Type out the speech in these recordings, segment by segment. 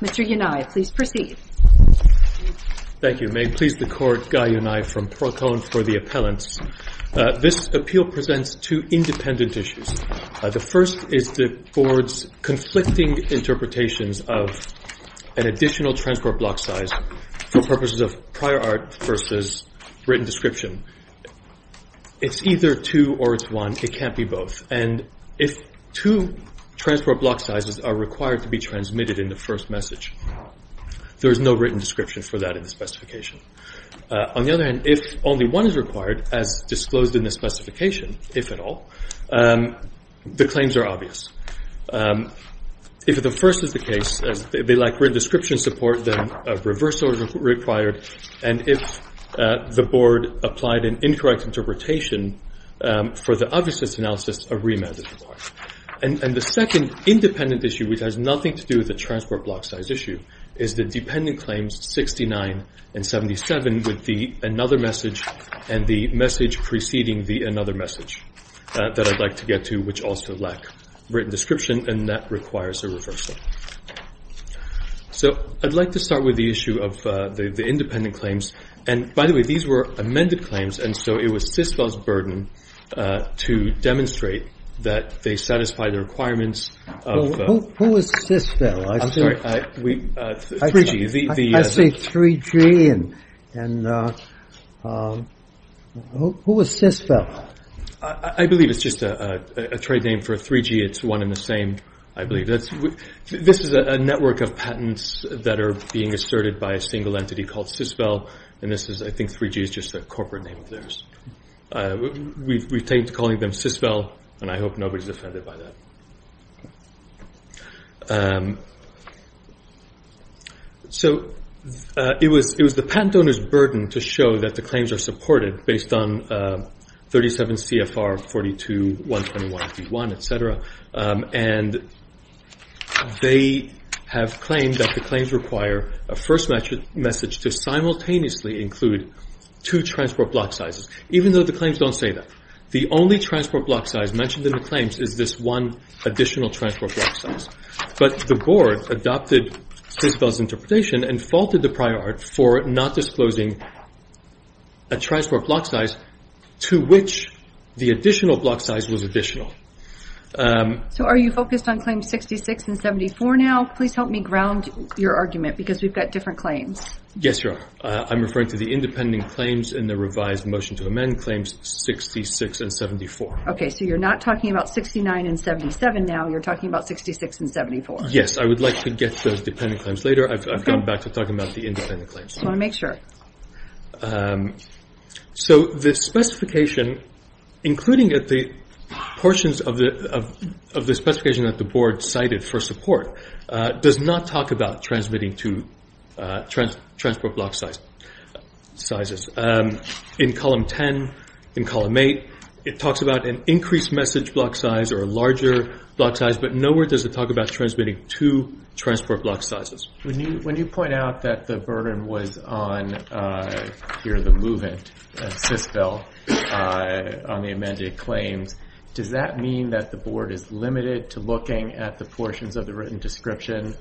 Mr. Yonai, please proceed. Thank you. May it please the Court, Guy Yonai from Procon for the appellants. This appeal presents two independent issues. The first is the Board's conflicting interpretations of an additional transport block size for purposes of prior art versus written description. It's either two or it's one. It can't be both. And if two transport block sizes are required to be transmitted in the first message, there is no written description for that in the specification. On the other hand, if only one is required, as disclosed in the specification, if at all, the claims are obvious. If the first is the case, they lack written description support, then a reversal is required. And if the Board applied an incorrect interpretation for the obviousness analysis, a remand is required. And the second independent issue, which has nothing to do with the transport block size issue, is the dependent claims 69 and 77 with the another message and the message preceding the another message that I'd like to get to, which also lack written description, and that requires a reversal. So I'd like to start with the issue of the independent claims. And by the way, these were amended claims, and so it was Sisvell's burden to demonstrate that they satisfy the requirements of Who was Sisvell? I'm sorry, 3G. I see 3G. And who was Sisvell? I believe it's just a trade name for 3G. It's one and the same, I believe. This is a network of patents that are being asserted by a single entity called Sisvell, and I think 3G is just a corporate name of theirs. We've taken to calling them Sisvell, and I hope nobody's offended by that. So it was the patent owner's burden to show that the claims are supported based on 37 CFR 42, 121, 51, etc. And they have claimed that the claims require a first message to simultaneously include two transport block sizes, even though the claims don't say that. The only transport block size mentioned in the claims is this one additional transport block size. But the board adopted Sisvell's interpretation and faulted the prior art for not disclosing a transport block size to which the additional block size was additional. So are you focused on claims 66 and 74 now? Please help me ground your argument, because we've got different claims. Yes, you are. I'm referring to the independent claims in the revised motion to amend claims 66 and 74. Okay, so you're not talking about 69 and 77 now, you're talking about 66 and 74. Yes, I would like to get to those dependent claims later. I've gone back to talking about the independent claims. I just want to make sure. So the specification, including the portions of the specification that the board cited for support, does not talk about transmitting two transport block sizes. In column 10, in column 8, it talks about an increased message block size or a larger block size, but nowhere does it talk about transmitting two transport block sizes. When you point out that the burden was on, here, the movement of Sisvell on the amended claims, does that mean that the board is limited to looking at the portions of the written description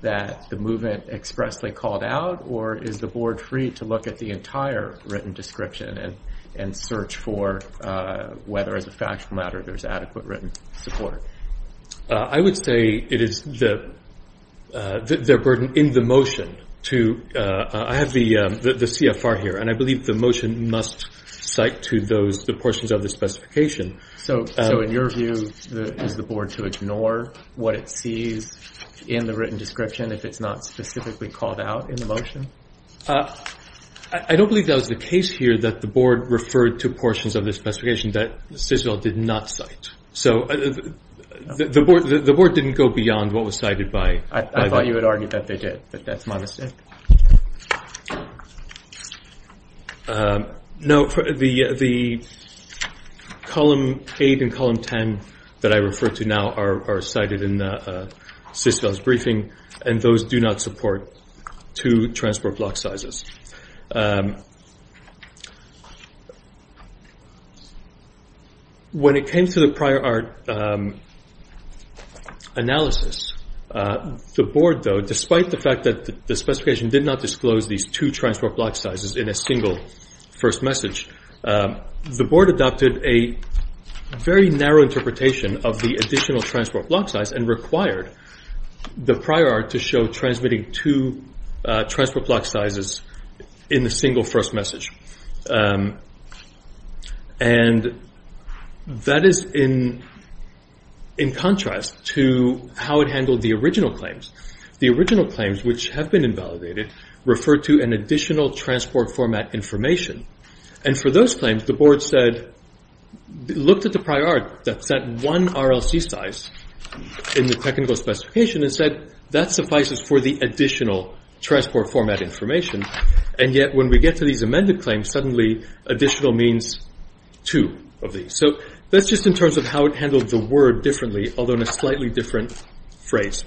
that the movement expressly called out, or is the board free to look at the entire written description and search for whether, as a factual matter, there's adequate written support? I would say it is their burden in the motion. I have the CFR here, and I believe the motion must cite to the portions of the specification. So in your view, is the board to ignore what it sees in the written description if it's not specifically called out in the motion? I don't believe that was the case here, that the board referred to portions of the specification that Sisvell did not cite. So the board didn't go beyond what was cited by that. I thought you had argued that they did, but that's my mistake. No, the column 8 and column 10 that I refer to now are cited in Sisvell's briefing, and those do not support two transport block sizes. When it came to the prior art analysis, the board, though, despite the fact that the specification did not disclose these two transport block sizes in a single first message, the board adopted a very narrow interpretation of the additional transport block size and required the prior art to show transmitting two transport block sizes in a single first message. And that is in contrast to how it handled the original claims. The original claims, which have been invalidated, refer to an additional transport format information, and for those claims, the board looked at the prior art that set one RLC size in the technical specification and said that suffices for the additional transport format information, and yet when we get to these amended claims, suddenly additional means two of these. So that's just in terms of how it handled the word differently, although in a slightly different phrase.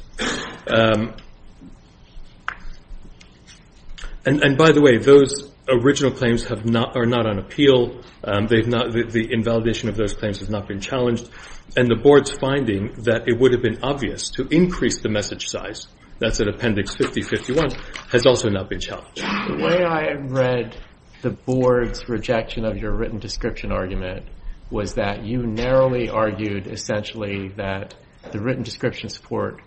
And by the way, those original claims are not on appeal, the invalidation of those claims has not been challenged, and the board's finding that it would have been obvious to increase the message size, that's at appendix 50-51, has also not been challenged. The way I read the board's rejection of your written description argument was that you narrowly argued essentially that the written description support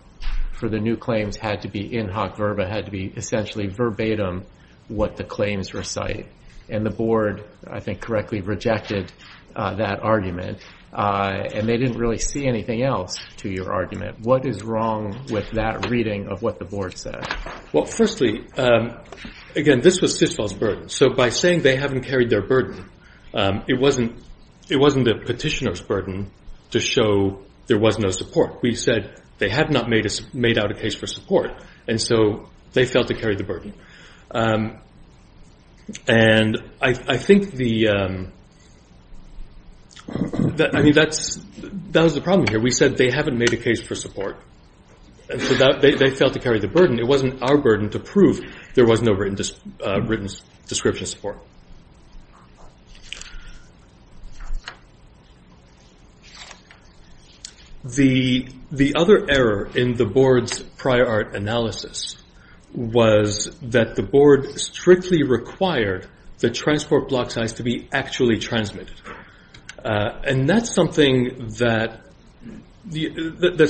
for the new claims had to be in hoc verba, had to be essentially verbatim what the claims recite, and the board, I think, correctly rejected that argument, and they didn't really see anything else to your argument. What is wrong with that reading of what the board said? Well, firstly, again, this was Fisfall's burden, so by saying they haven't carried their burden, it wasn't the petitioner's burden to show there was no support. We said they had not made out a case for support, and so they failed to carry the burden. And I think the... I mean, that was the problem here. We said they haven't made a case for support, and so they failed to carry the burden. It wasn't our burden to prove there was no written description support. The other error in the board's prior art analysis was that the board strictly required the transport block size to be actually transmitted. And that's something that's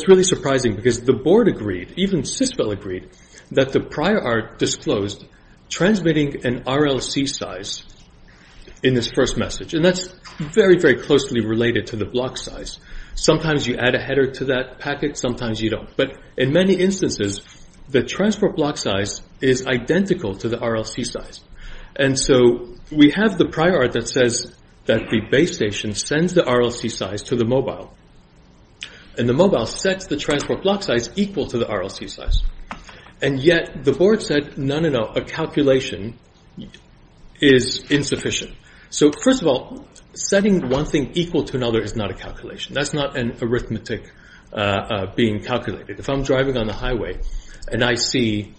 really surprising, because the board agreed, even CISPL agreed, that the prior art disclosed transmitting an RLC size in this first message, and that's very, very closely related to the block size. Sometimes you add a header to that packet, sometimes you don't. But in many instances, the transport block size is identical to the RLC size. And so we have the prior art that says that the base station sends the RLC size to the mobile, and the mobile sets the transport block size equal to the RLC size. And yet, the board said, no, no, no, a calculation is insufficient. So, first of all, setting one thing equal to another is not a calculation. That's not an arithmetic being calculated. If I'm driving on the highway, and I see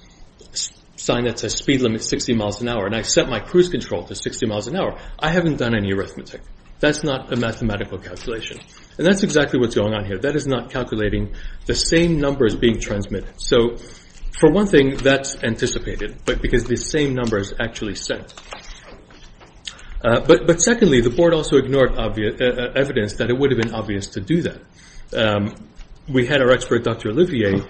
a sign that says speed limit 60 miles an hour, and I set my cruise control to 60 miles an hour, I haven't done any arithmetic. That's not a mathematical calculation. And that's exactly what's going on here. That is not calculating the same numbers being transmitted. So, for one thing, that's anticipated, because the same numbers actually sent. But secondly, the board also ignored evidence that it would have been obvious to do that. We had our expert, Dr. Olivier,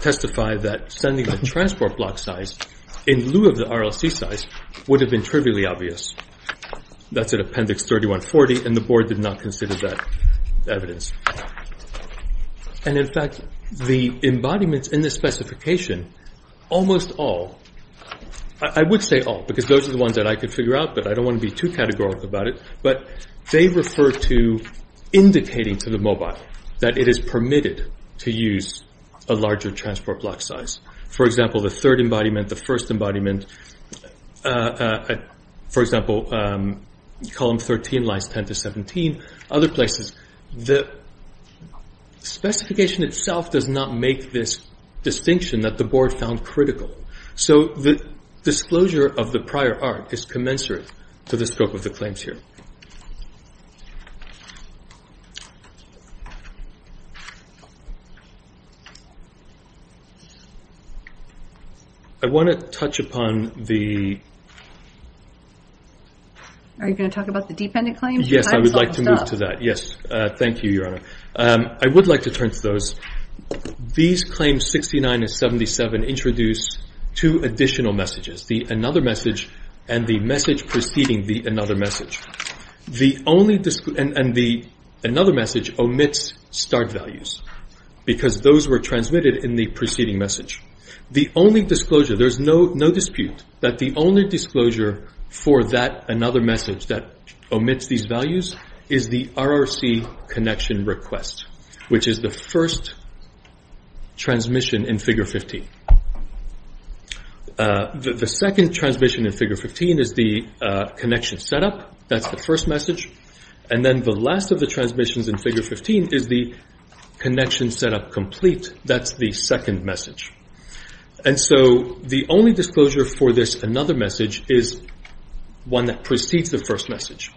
testify that sending a transport block size in lieu of the RLC size would have been trivially obvious. That's at Appendix 3140, and the board did not consider that evidence. And, in fact, the embodiments in this specification, almost all, I would say all, because those are the ones that I could figure out, but I don't want to be too categorical about it, but they refer to indicating to the mobile that it is permitted to use a larger transport block size. For example, the third embodiment, the first embodiment, for example, column 13 lies 10 to 17, other places. The specification itself does not make this distinction that the board found critical. So the disclosure of the prior art is commensurate to the scope of the claims here. I want to touch upon the... Are you going to talk about the dependent claims? Yes, I would like to move to that. Yes, thank you, Your Honor. I would like to turn to those. These claims 69 and 77 introduce two additional messages, the another message and the message preceding the another message. The only... And the another message omits start values because those were transmitted in the preceding message. The only disclosure, there's no dispute, that the only disclosure for that another message that omits these values is the RRC connection request, which is the first transmission in Figure 15. The second transmission in Figure 15 is the connection setup. That's the first message. And then the last of the transmissions in Figure 15 is the connection setup complete. That's the second message. And so the only disclosure for this another message is one that precedes the first message.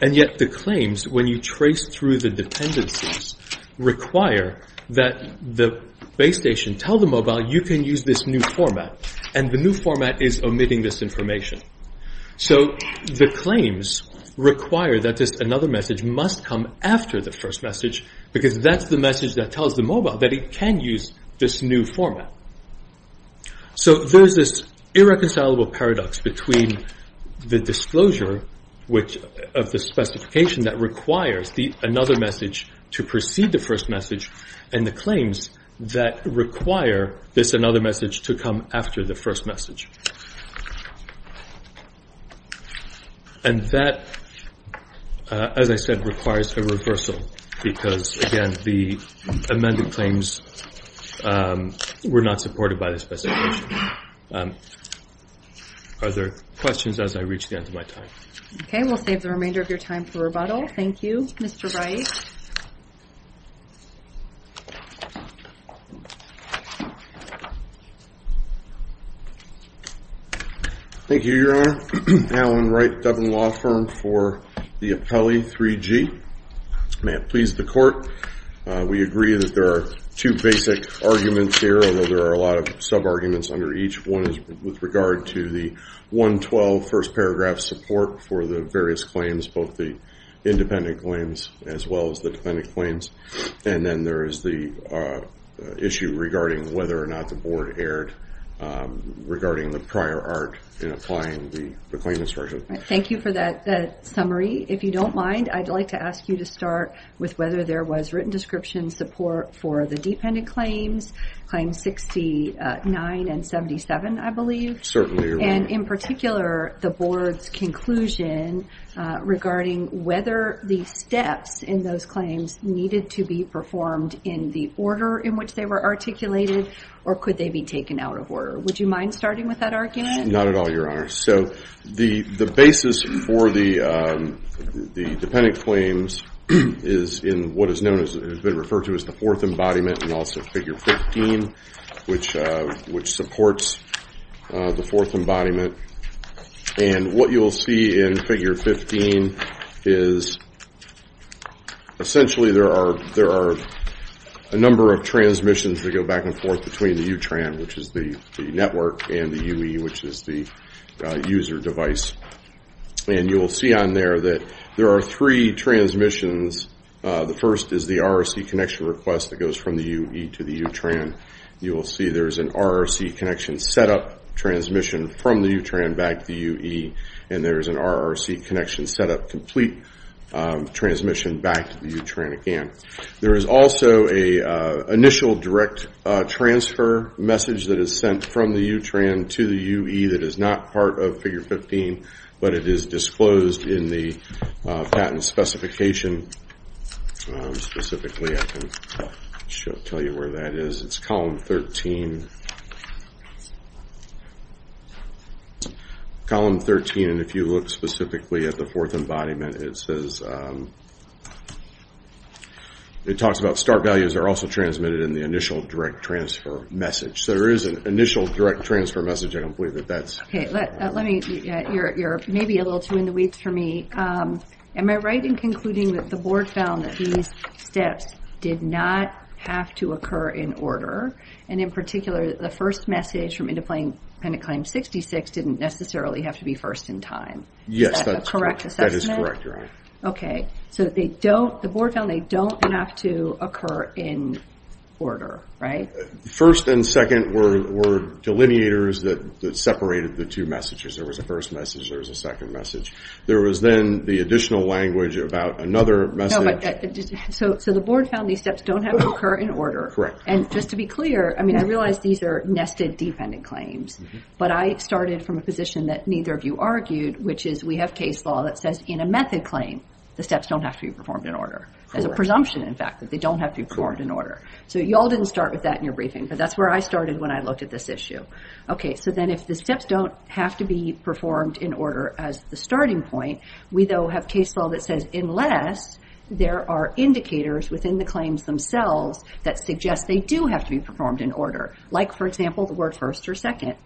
And yet the claims, when you trace through the dependencies, require that the base station tell the mobile, you can use this new format. And the new format is omitting this information. So the claims require that this another message must come after the first message because that's the message that tells the mobile that it can use this new format. So there's this irreconcilable paradox between the disclosure of the specification that requires another message to precede the first message and the claims that require this another message to come after the first message. And that, as I said, requires a reversal because, again, the amended claims were not supported by the specification. Are there questions as I reach the end of my time? Okay, we'll save the remainder of your time for rebuttal. Thank you, Mr. Rice. Thank you, Your Honor. Alan Wright, Dublin Law Firm for the Appellee 3G. May it please the Court, we agree that there are two basic arguments here, although there are a lot of sub-arguments under each. One is with regard to the 112 first paragraph support for the various claims, both the independent claims as well as the defendant claims. And then there is the issue regarding whether or not the Board erred regarding the prior art in applying the claim instructions. Thank you for that summary. If you don't mind, I'd like to ask you to start with whether there was written description support for the dependent claims, Claims 69 and 77, I believe. Certainly, Your Honor. And in particular, the Board's conclusion regarding whether the steps in those claims needed to be performed in the order in which they were articulated, or could they be taken out of order. Would you mind starting with that argument? Not at all, Your Honor. So the basis for the dependent claims is in what has been referred to as the fourth embodiment, and also figure 15, which supports the fourth embodiment. And what you'll see in figure 15 is essentially there are a number of transmissions that go back and forth between the UTRAN, which is the network, and the UE, which is the user device. And you will see on there that there are three transmissions. The first is the RRC connection request that goes from the UE to the UTRAN. You will see there is an RRC connection setup transmission from the UTRAN back to the UE, and there is an RRC connection setup complete transmission back to the UTRAN again. There is also an initial direct transfer message that is sent from the UTRAN to the UE that is not part of figure 15, but it is disclosed in the patent specification. Specifically, I can tell you where that is. It's column 13. Column 13, and if you look specifically at the fourth embodiment, it says it talks about start values are also transmitted in the initial direct transfer message. So there is an initial direct transfer message. I don't believe that that's... You're maybe a little too in the weeds for me. Am I right in concluding that the board found that these steps did not have to occur in order, and in particular, the first message from independent claim 66 didn't necessarily have to be first in time? Yes. Is that a correct assessment? That is correct. Okay. So the board found they don't have to occur in order, right? First and second were delineators that separated the two messages. There was a first message. There was a second message. There was then the additional language about another message. So the board found these steps don't have to occur in order. Correct. And just to be clear, I mean, I realize these are nested dependent claims, but I started from a position that neither of you argued, which is we have case law that says in a method claim, the steps don't have to be performed in order. There's a presumption, in fact, that they don't have to be performed in order. So you all didn't start with that in your briefing, but that's where I started when I looked at this issue. Okay. So then if the steps don't have to be performed in order as the starting point, we, though, have case law that says unless there are indicators within the claims themselves that suggest they do have to be performed in order, like, for example, the word first or second.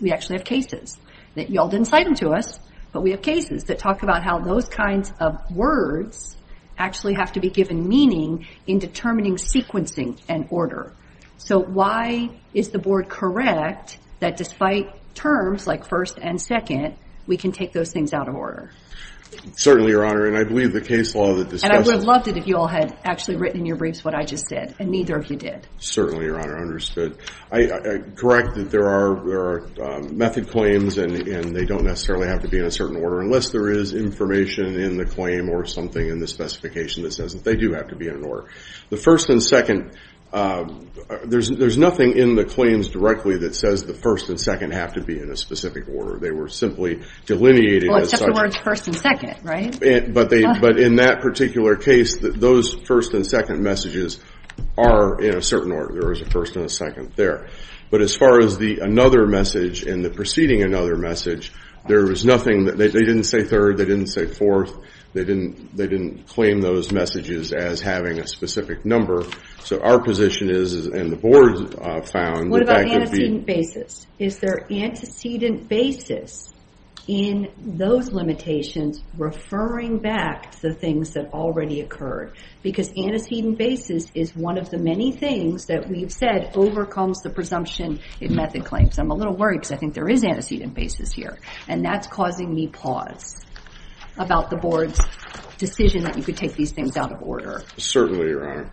We actually have cases that you all didn't cite them to us, but we have cases that talk about how those kinds of words actually have to be given meaning in determining sequencing and order. So why is the board correct that despite terms like first and second, we can take those things out of order? Certainly, Your Honor. And I believe the case law that discusses... And I would have loved it if you all had actually written in your briefs what I just did, and neither of you did. Certainly, Your Honor. I understood. I correct that there are method claims, and they don't necessarily have to be in a certain order unless there is information in the claim or something in the specification that says that they do have to be in order. The first and second, there's nothing in the claims directly that says the first and second have to be in a specific order. They were simply delineated as such. Well, except the words first and second, right? But in that particular case, those first and second messages are in a certain order. There was a first and a second there. But as far as another message and the preceding another message, there was nothing. They didn't say third. They didn't say fourth. They didn't claim those messages as having a specific number. So our position is, and the board found, that that could be... What about antecedent basis? Is there antecedent basis in those limitations referring back to the things that already occurred? Because antecedent basis is one of the many things that we've said overcomes the presumption in method claims. I'm a little worried because I think there is antecedent basis here, and that's causing me pause about the board's decision that you could take these things out of order. Certainly, Your Honor.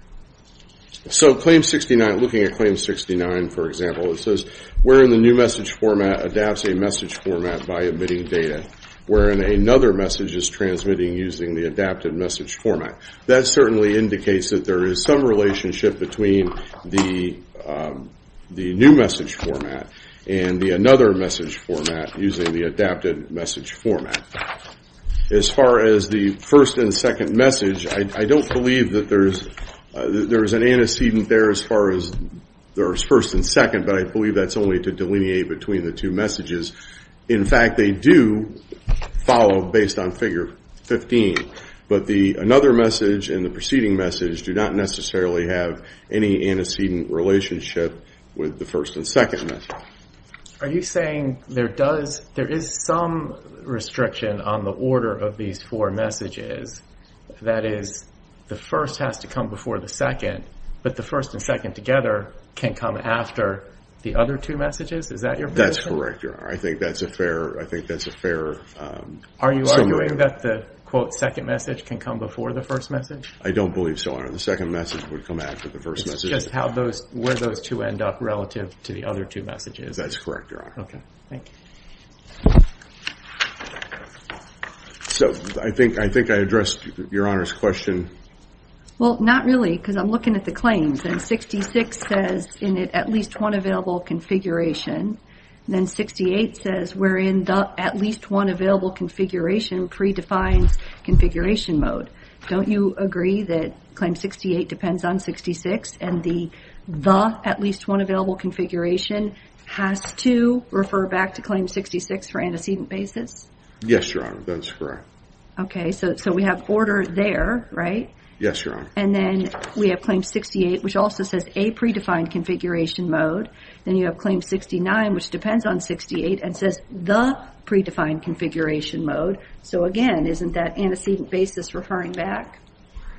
So Claim 69, looking at Claim 69, for example, it says wherein the new message format adapts a message format by omitting data, wherein another message is transmitting using the adapted message format. That certainly indicates that there is some relationship between the new message format and the another message format using the adapted message format. As far as the first and second message, I don't believe that there's an antecedent there as far as there's first and second, but I believe that's only to delineate between the two messages. In fact, they do follow based on Figure 15. But the another message and the preceding message do not necessarily have any antecedent relationship with the first and second message. Are you saying there is some restriction on the order of these four messages, that is, the first has to come before the second, but the first and second together can come after the other two messages? Is that your position? That's correct, Your Honor. I think that's a fair summary. Are you arguing that the, quote, second message can come before the first message? I don't believe so, Your Honor. The second message would come after the first message. It's just where those two end up relative to the other two messages. That's correct, Your Honor. Okay. Thank you. So I think I addressed Your Honor's question. Well, not really, because I'm looking at the claims. And 66 says in it at least one available configuration, and then 68 says we're in the at least one available configuration predefines configuration mode. Don't you agree that Claim 68 depends on 66 and the the at least one available configuration has to refer back to Claim 66 for antecedent basis? Yes, Your Honor. That's correct. Okay. So we have order there, right? Yes, Your Honor. And then we have Claim 68, which also says a predefined configuration mode. Then you have Claim 69, which depends on 68 and says the predefined configuration mode. So, again, isn't that antecedent basis referring back?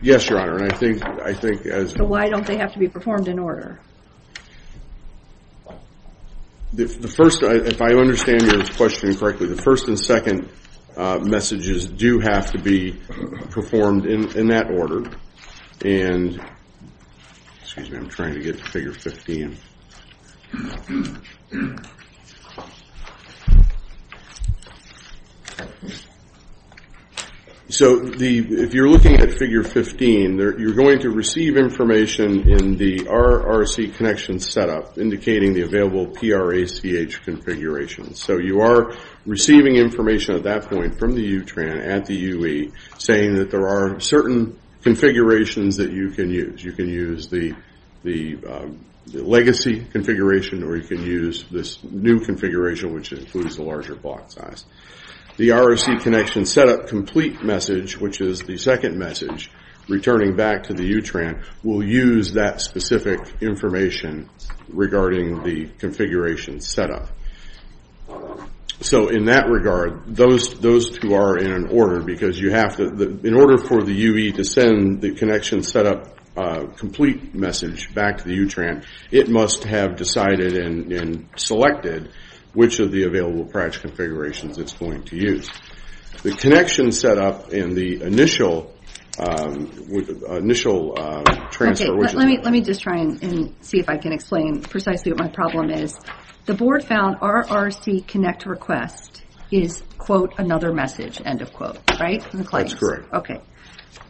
Yes, Your Honor. And I think as... So why don't they have to be performed in order? The first, if I understand your question correctly, the first and second messages do have to be performed in that order. And, excuse me, I'm trying to get to Figure 15. So if you're looking at Figure 15, you're going to receive information in the RRC connection setup indicating the available PRACH configurations. So you are receiving information at that point from the UTRAN at the UE saying that there are certain configurations that you can use. You can use the legacy configuration or you can use this new configuration, which includes the larger block size. The RRC connection setup complete message, which is the second message, returning back to the UTRAN, will use that specific information regarding the configuration setup. So in that regard, those two are in order because in order for the UE to send the connection setup complete message back to the UTRAN, it must have decided and selected which of the available PRACH configurations it's going to use. The connection setup in the initial transfer... Okay, let me just try and see if I can explain precisely what my problem is. The board found RRC connect request is, quote, another message, end of quote, right? That's correct. Okay,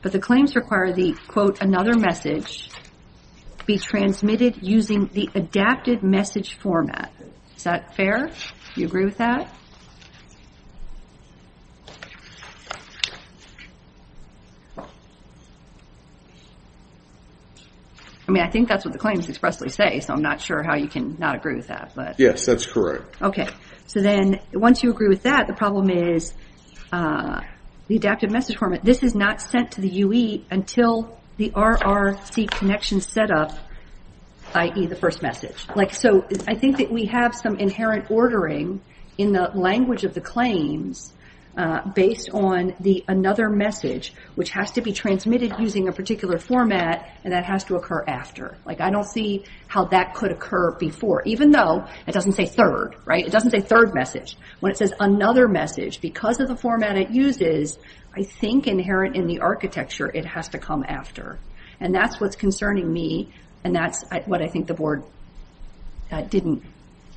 but the claims require the, quote, another message be transmitted using the adapted message format. Is that fair? Do you agree with that? I mean, I think that's what the claims expressly say, so I'm not sure how you can not agree with that. Yes, that's correct. Okay, so then once you agree with that, the problem is the adapted message format. This is not sent to the UE until the RRC connection setup, i.e. the first message. So I think that we have some inherent ordering in the language of the claims based on the another message, which has to be transmitted using a particular format, and that has to occur after. I don't see how that could occur before, even though it doesn't say third, right? It doesn't say third message. When it says another message, because of the format it uses, I think inherent in the architecture, it has to come after, and that's what's concerning me, and that's what I think the board didn't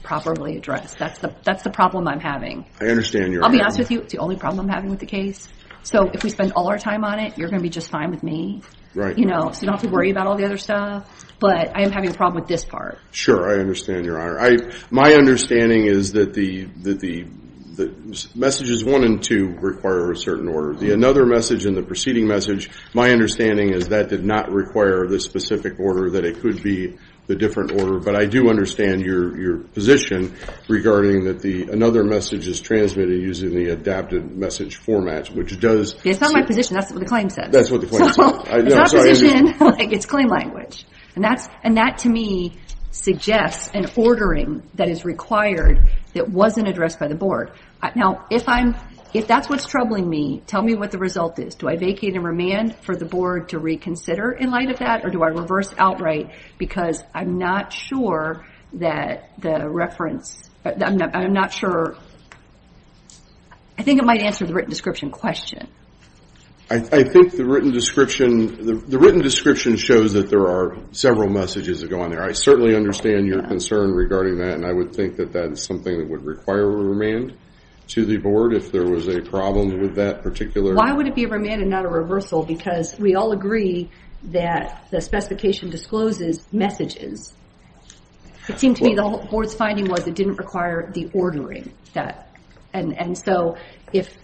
properly address. That's the problem I'm having. I understand your honor. I'll be honest with you, it's the only problem I'm having with the case. So if we spend all our time on it, you're going to be just fine with me. Right. You know, so you don't have to worry about all the other stuff, but I am having a problem with this part. Sure, I understand your honor. My understanding is that the messages one and two require a certain order. The another message and the preceding message, my understanding is that did not require this specific order, that it could be a different order, but I do understand your position regarding that another message is transmitted using the adapted message format, which does. It's not my position. That's what the claim says. That's what the claim says. It's not position, it's claim language, and that to me suggests an ordering that is required that wasn't addressed by the board. Now, if that's what's troubling me, tell me what the result is. Do I vacate and remand for the board to reconsider in light of that, or do I reverse outright because I'm not sure that the reference, I'm not sure. I think it might answer the written description question. I think the written description shows that there are several messages that go on there. I certainly understand your concern regarding that, and I would think that that is something that would require a remand to the board if there was a problem with that particular. Why would it be a remand and not a reversal? Because we all agree that the specification discloses messages. It seemed to me the board's finding was it didn't require the ordering. And so if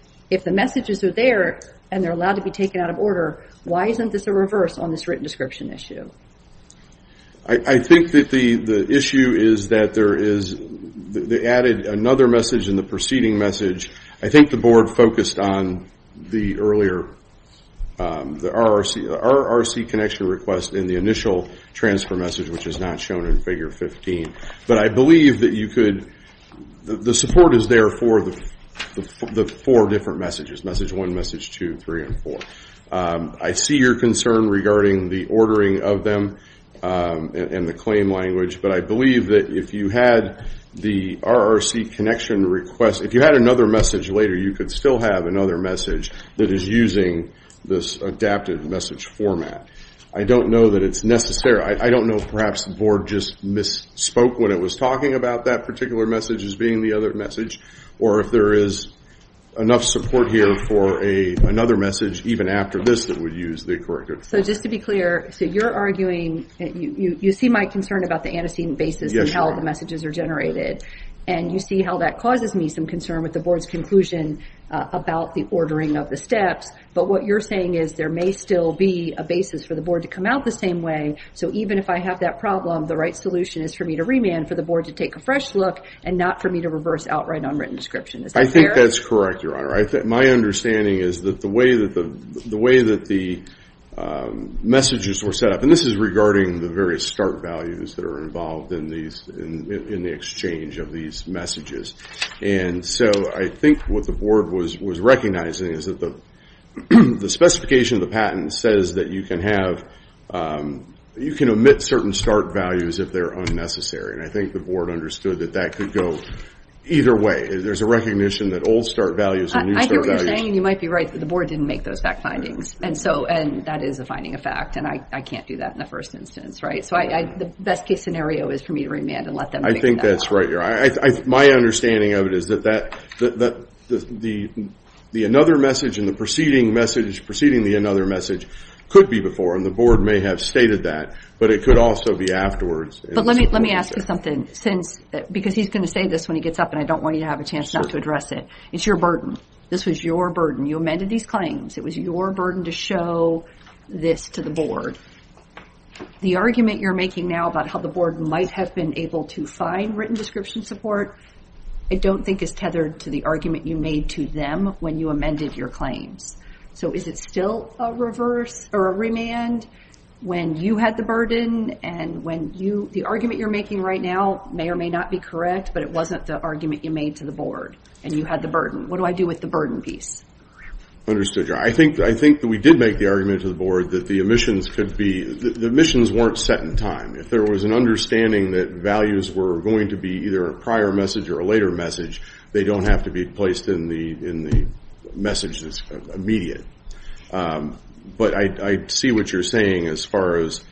the messages are there and they're allowed to be taken out of order, why isn't this a reverse on this written description issue? I think that the issue is that they added another message in the preceding message. I think the board focused on the earlier RRC connection request in the initial transfer message, which is not shown in Figure 15. But I believe that the support is there for the four different messages, Message 1, Message 2, 3, and 4. I see your concern regarding the ordering of them and the claim language, but I believe that if you had the RRC connection request, if you had another message later, you could still have another message that is using this adapted message format. I don't know that it's necessary. I don't know if perhaps the board just misspoke when it was talking about that particular message as being the other message, or if there is enough support here for another message even after this that would use the corrected form. So just to be clear, so you're arguing, you see my concern about the antecedent basis and how the messages are generated, and you see how that causes me some concern with the board's conclusion about the ordering of the steps. But what you're saying is there may still be a basis for the board to come out the same way, so even if I have that problem, the right solution is for me to remand, for the board to take a fresh look, and not for me to reverse outright unwritten description. Is that fair? I think that's correct, Your Honor. My understanding is that the way that the messages were set up, and this is regarding the various start values that are involved in the exchange of these messages. And so I think what the board was recognizing is that the specification of the patent says that you can have, you can omit certain start values if they're unnecessary. And I think the board understood that that could go either way. There's a recognition that old start values and new start values. I hear what you're saying. You might be right that the board didn't make those fact findings. And so that is a finding of fact, and I can't do that in the first instance, right? So the best case scenario is for me to remand and let them figure that out. I think that's right, Your Honor. My understanding of it is that the another message and the preceding message, preceding the another message could be before, and the board may have stated that, but it could also be afterwards. But let me ask you something, because he's going to say this when he gets up, and I don't want you to have a chance not to address it. It's your burden. This was your burden. You amended these claims. It was your burden to show this to the board. The argument you're making now about how the board might have been able to find written description support, I don't think is tethered to the argument you made to them when you amended your claims. So is it still a reverse or a remand when you had the burden and when the argument you're making right now may or may not be correct, but it wasn't the argument you made to the board and you had the burden? What do I do with the burden piece? Understood, Your Honor. I think that we did make the argument to the board that the omissions weren't set in time. If there was an understanding that values were going to be either a prior message or a later message, they don't have to be placed in the message that's immediate. But I see what you're saying as far as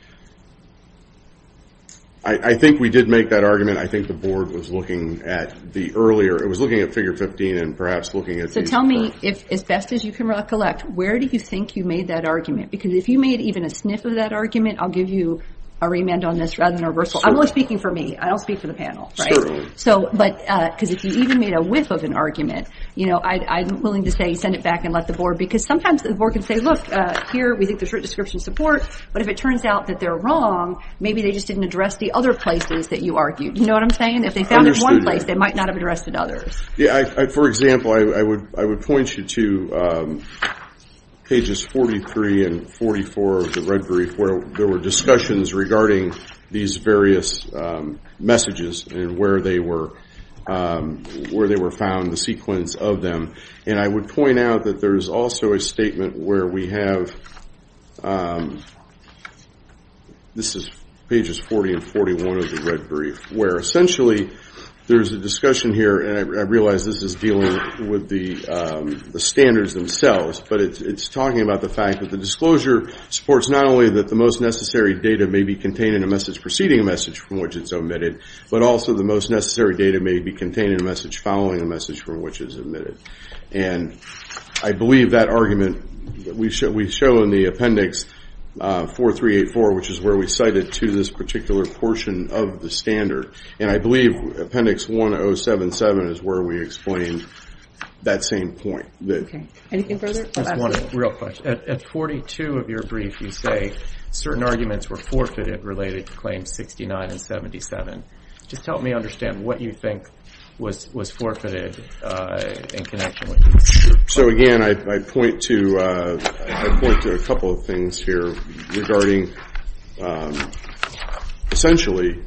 I think we did make that argument. I think the board was looking at the earlier. It was looking at Figure 15 and perhaps looking at these. So tell me, as best as you can recollect, where do you think you made that argument? Because if you made even a sniff of that argument, I'll give you a remand on this rather than a reversal. I'm only speaking for me. I don't speak for the panel. Certainly. Because if you even made a whiff of an argument, I'm willing to say send it back and let the board because sometimes the board can say, look, here we think there's a description of support, but if it turns out that they're wrong, maybe they just didn't address the other places that you argued. You know what I'm saying? If they found it in one place, they might not have addressed it in others. For example, I would point you to pages 43 and 44 of the red brief where there were discussions regarding these various messages and where they were found, the sequence of them. And I would point out that there's also a statement where we have, this is pages 40 and 41 of the red brief, where essentially there's a discussion here, and I realize this is dealing with the standards themselves, but it's talking about the fact that the disclosure supports not only that the most necessary data may be contained in a message preceding a message from which it's omitted, but also the most necessary data may be contained in a message following a message from which it's omitted. And I believe that argument, we show in the appendix 4384, which is where we cite it to this particular portion of the standard, and I believe appendix 1077 is where we explain that same point. Anything further? Just one real question. At 42 of your brief, you say certain arguments were forfeited related to claims 69 and 77. Just help me understand what you think was forfeited in connection with these. So again, I point to a couple of things here regarding, essentially,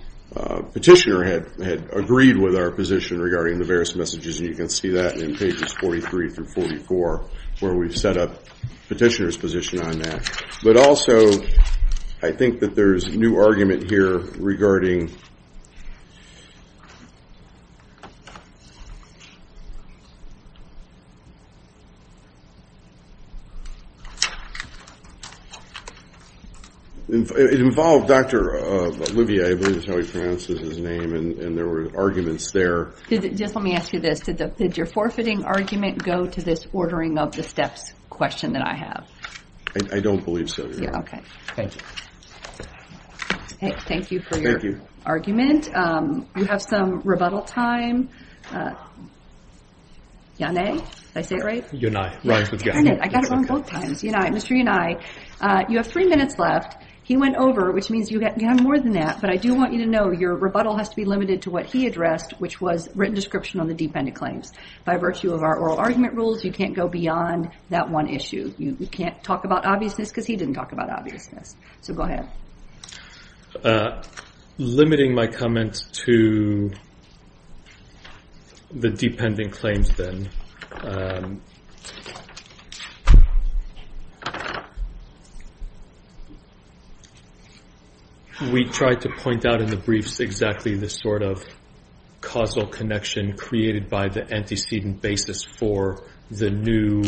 Petitioner had agreed with our position regarding the various messages, and you can see that in pages 43 through 44, where we've set up Petitioner's position on that. But also, I think that there's a new argument here regarding, it involved Dr. Olivier, I believe is how he pronounces his name, and there were arguments there. Just let me ask you this. Did your forfeiting argument go to this ordering of the steps question that I have? I don't believe so. Okay. Thank you. Thank you for your argument. You have some rebuttal time. Yanai? Did I say it right? Yanai. I got it wrong both times. Mr. Yanai, you have three minutes left. He went over, which means you have more than that, but I do want you to know your rebuttal has to be limited to what he addressed, which was written description on the dependent claims. By virtue of our oral argument rules, you can't go beyond that one issue. You can't talk about obviousness, because he didn't talk about obviousness. So go ahead. Limiting my comments to the dependent claims, then. We tried to point out in the briefs exactly this sort of causal connection created by the antecedent basis for the new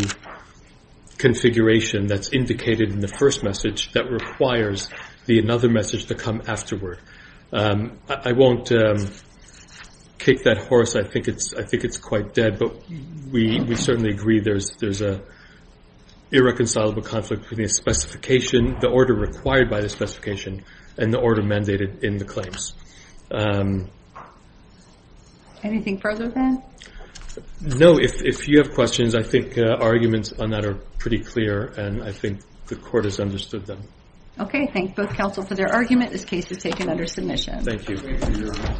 configuration that's indicated in the first message that requires the another message to come afterward. I won't kick that horse. I think it's quite dead, but we think it's important. I certainly agree there's an irreconcilable conflict between the specification, the order required by the specification, and the order mandated in the claims. Anything further, then? No. If you have questions, I think arguments on that are pretty clear, and I think the court has understood them. Okay. Thank both counsel for their argument. This case is taken under submission. Thank you.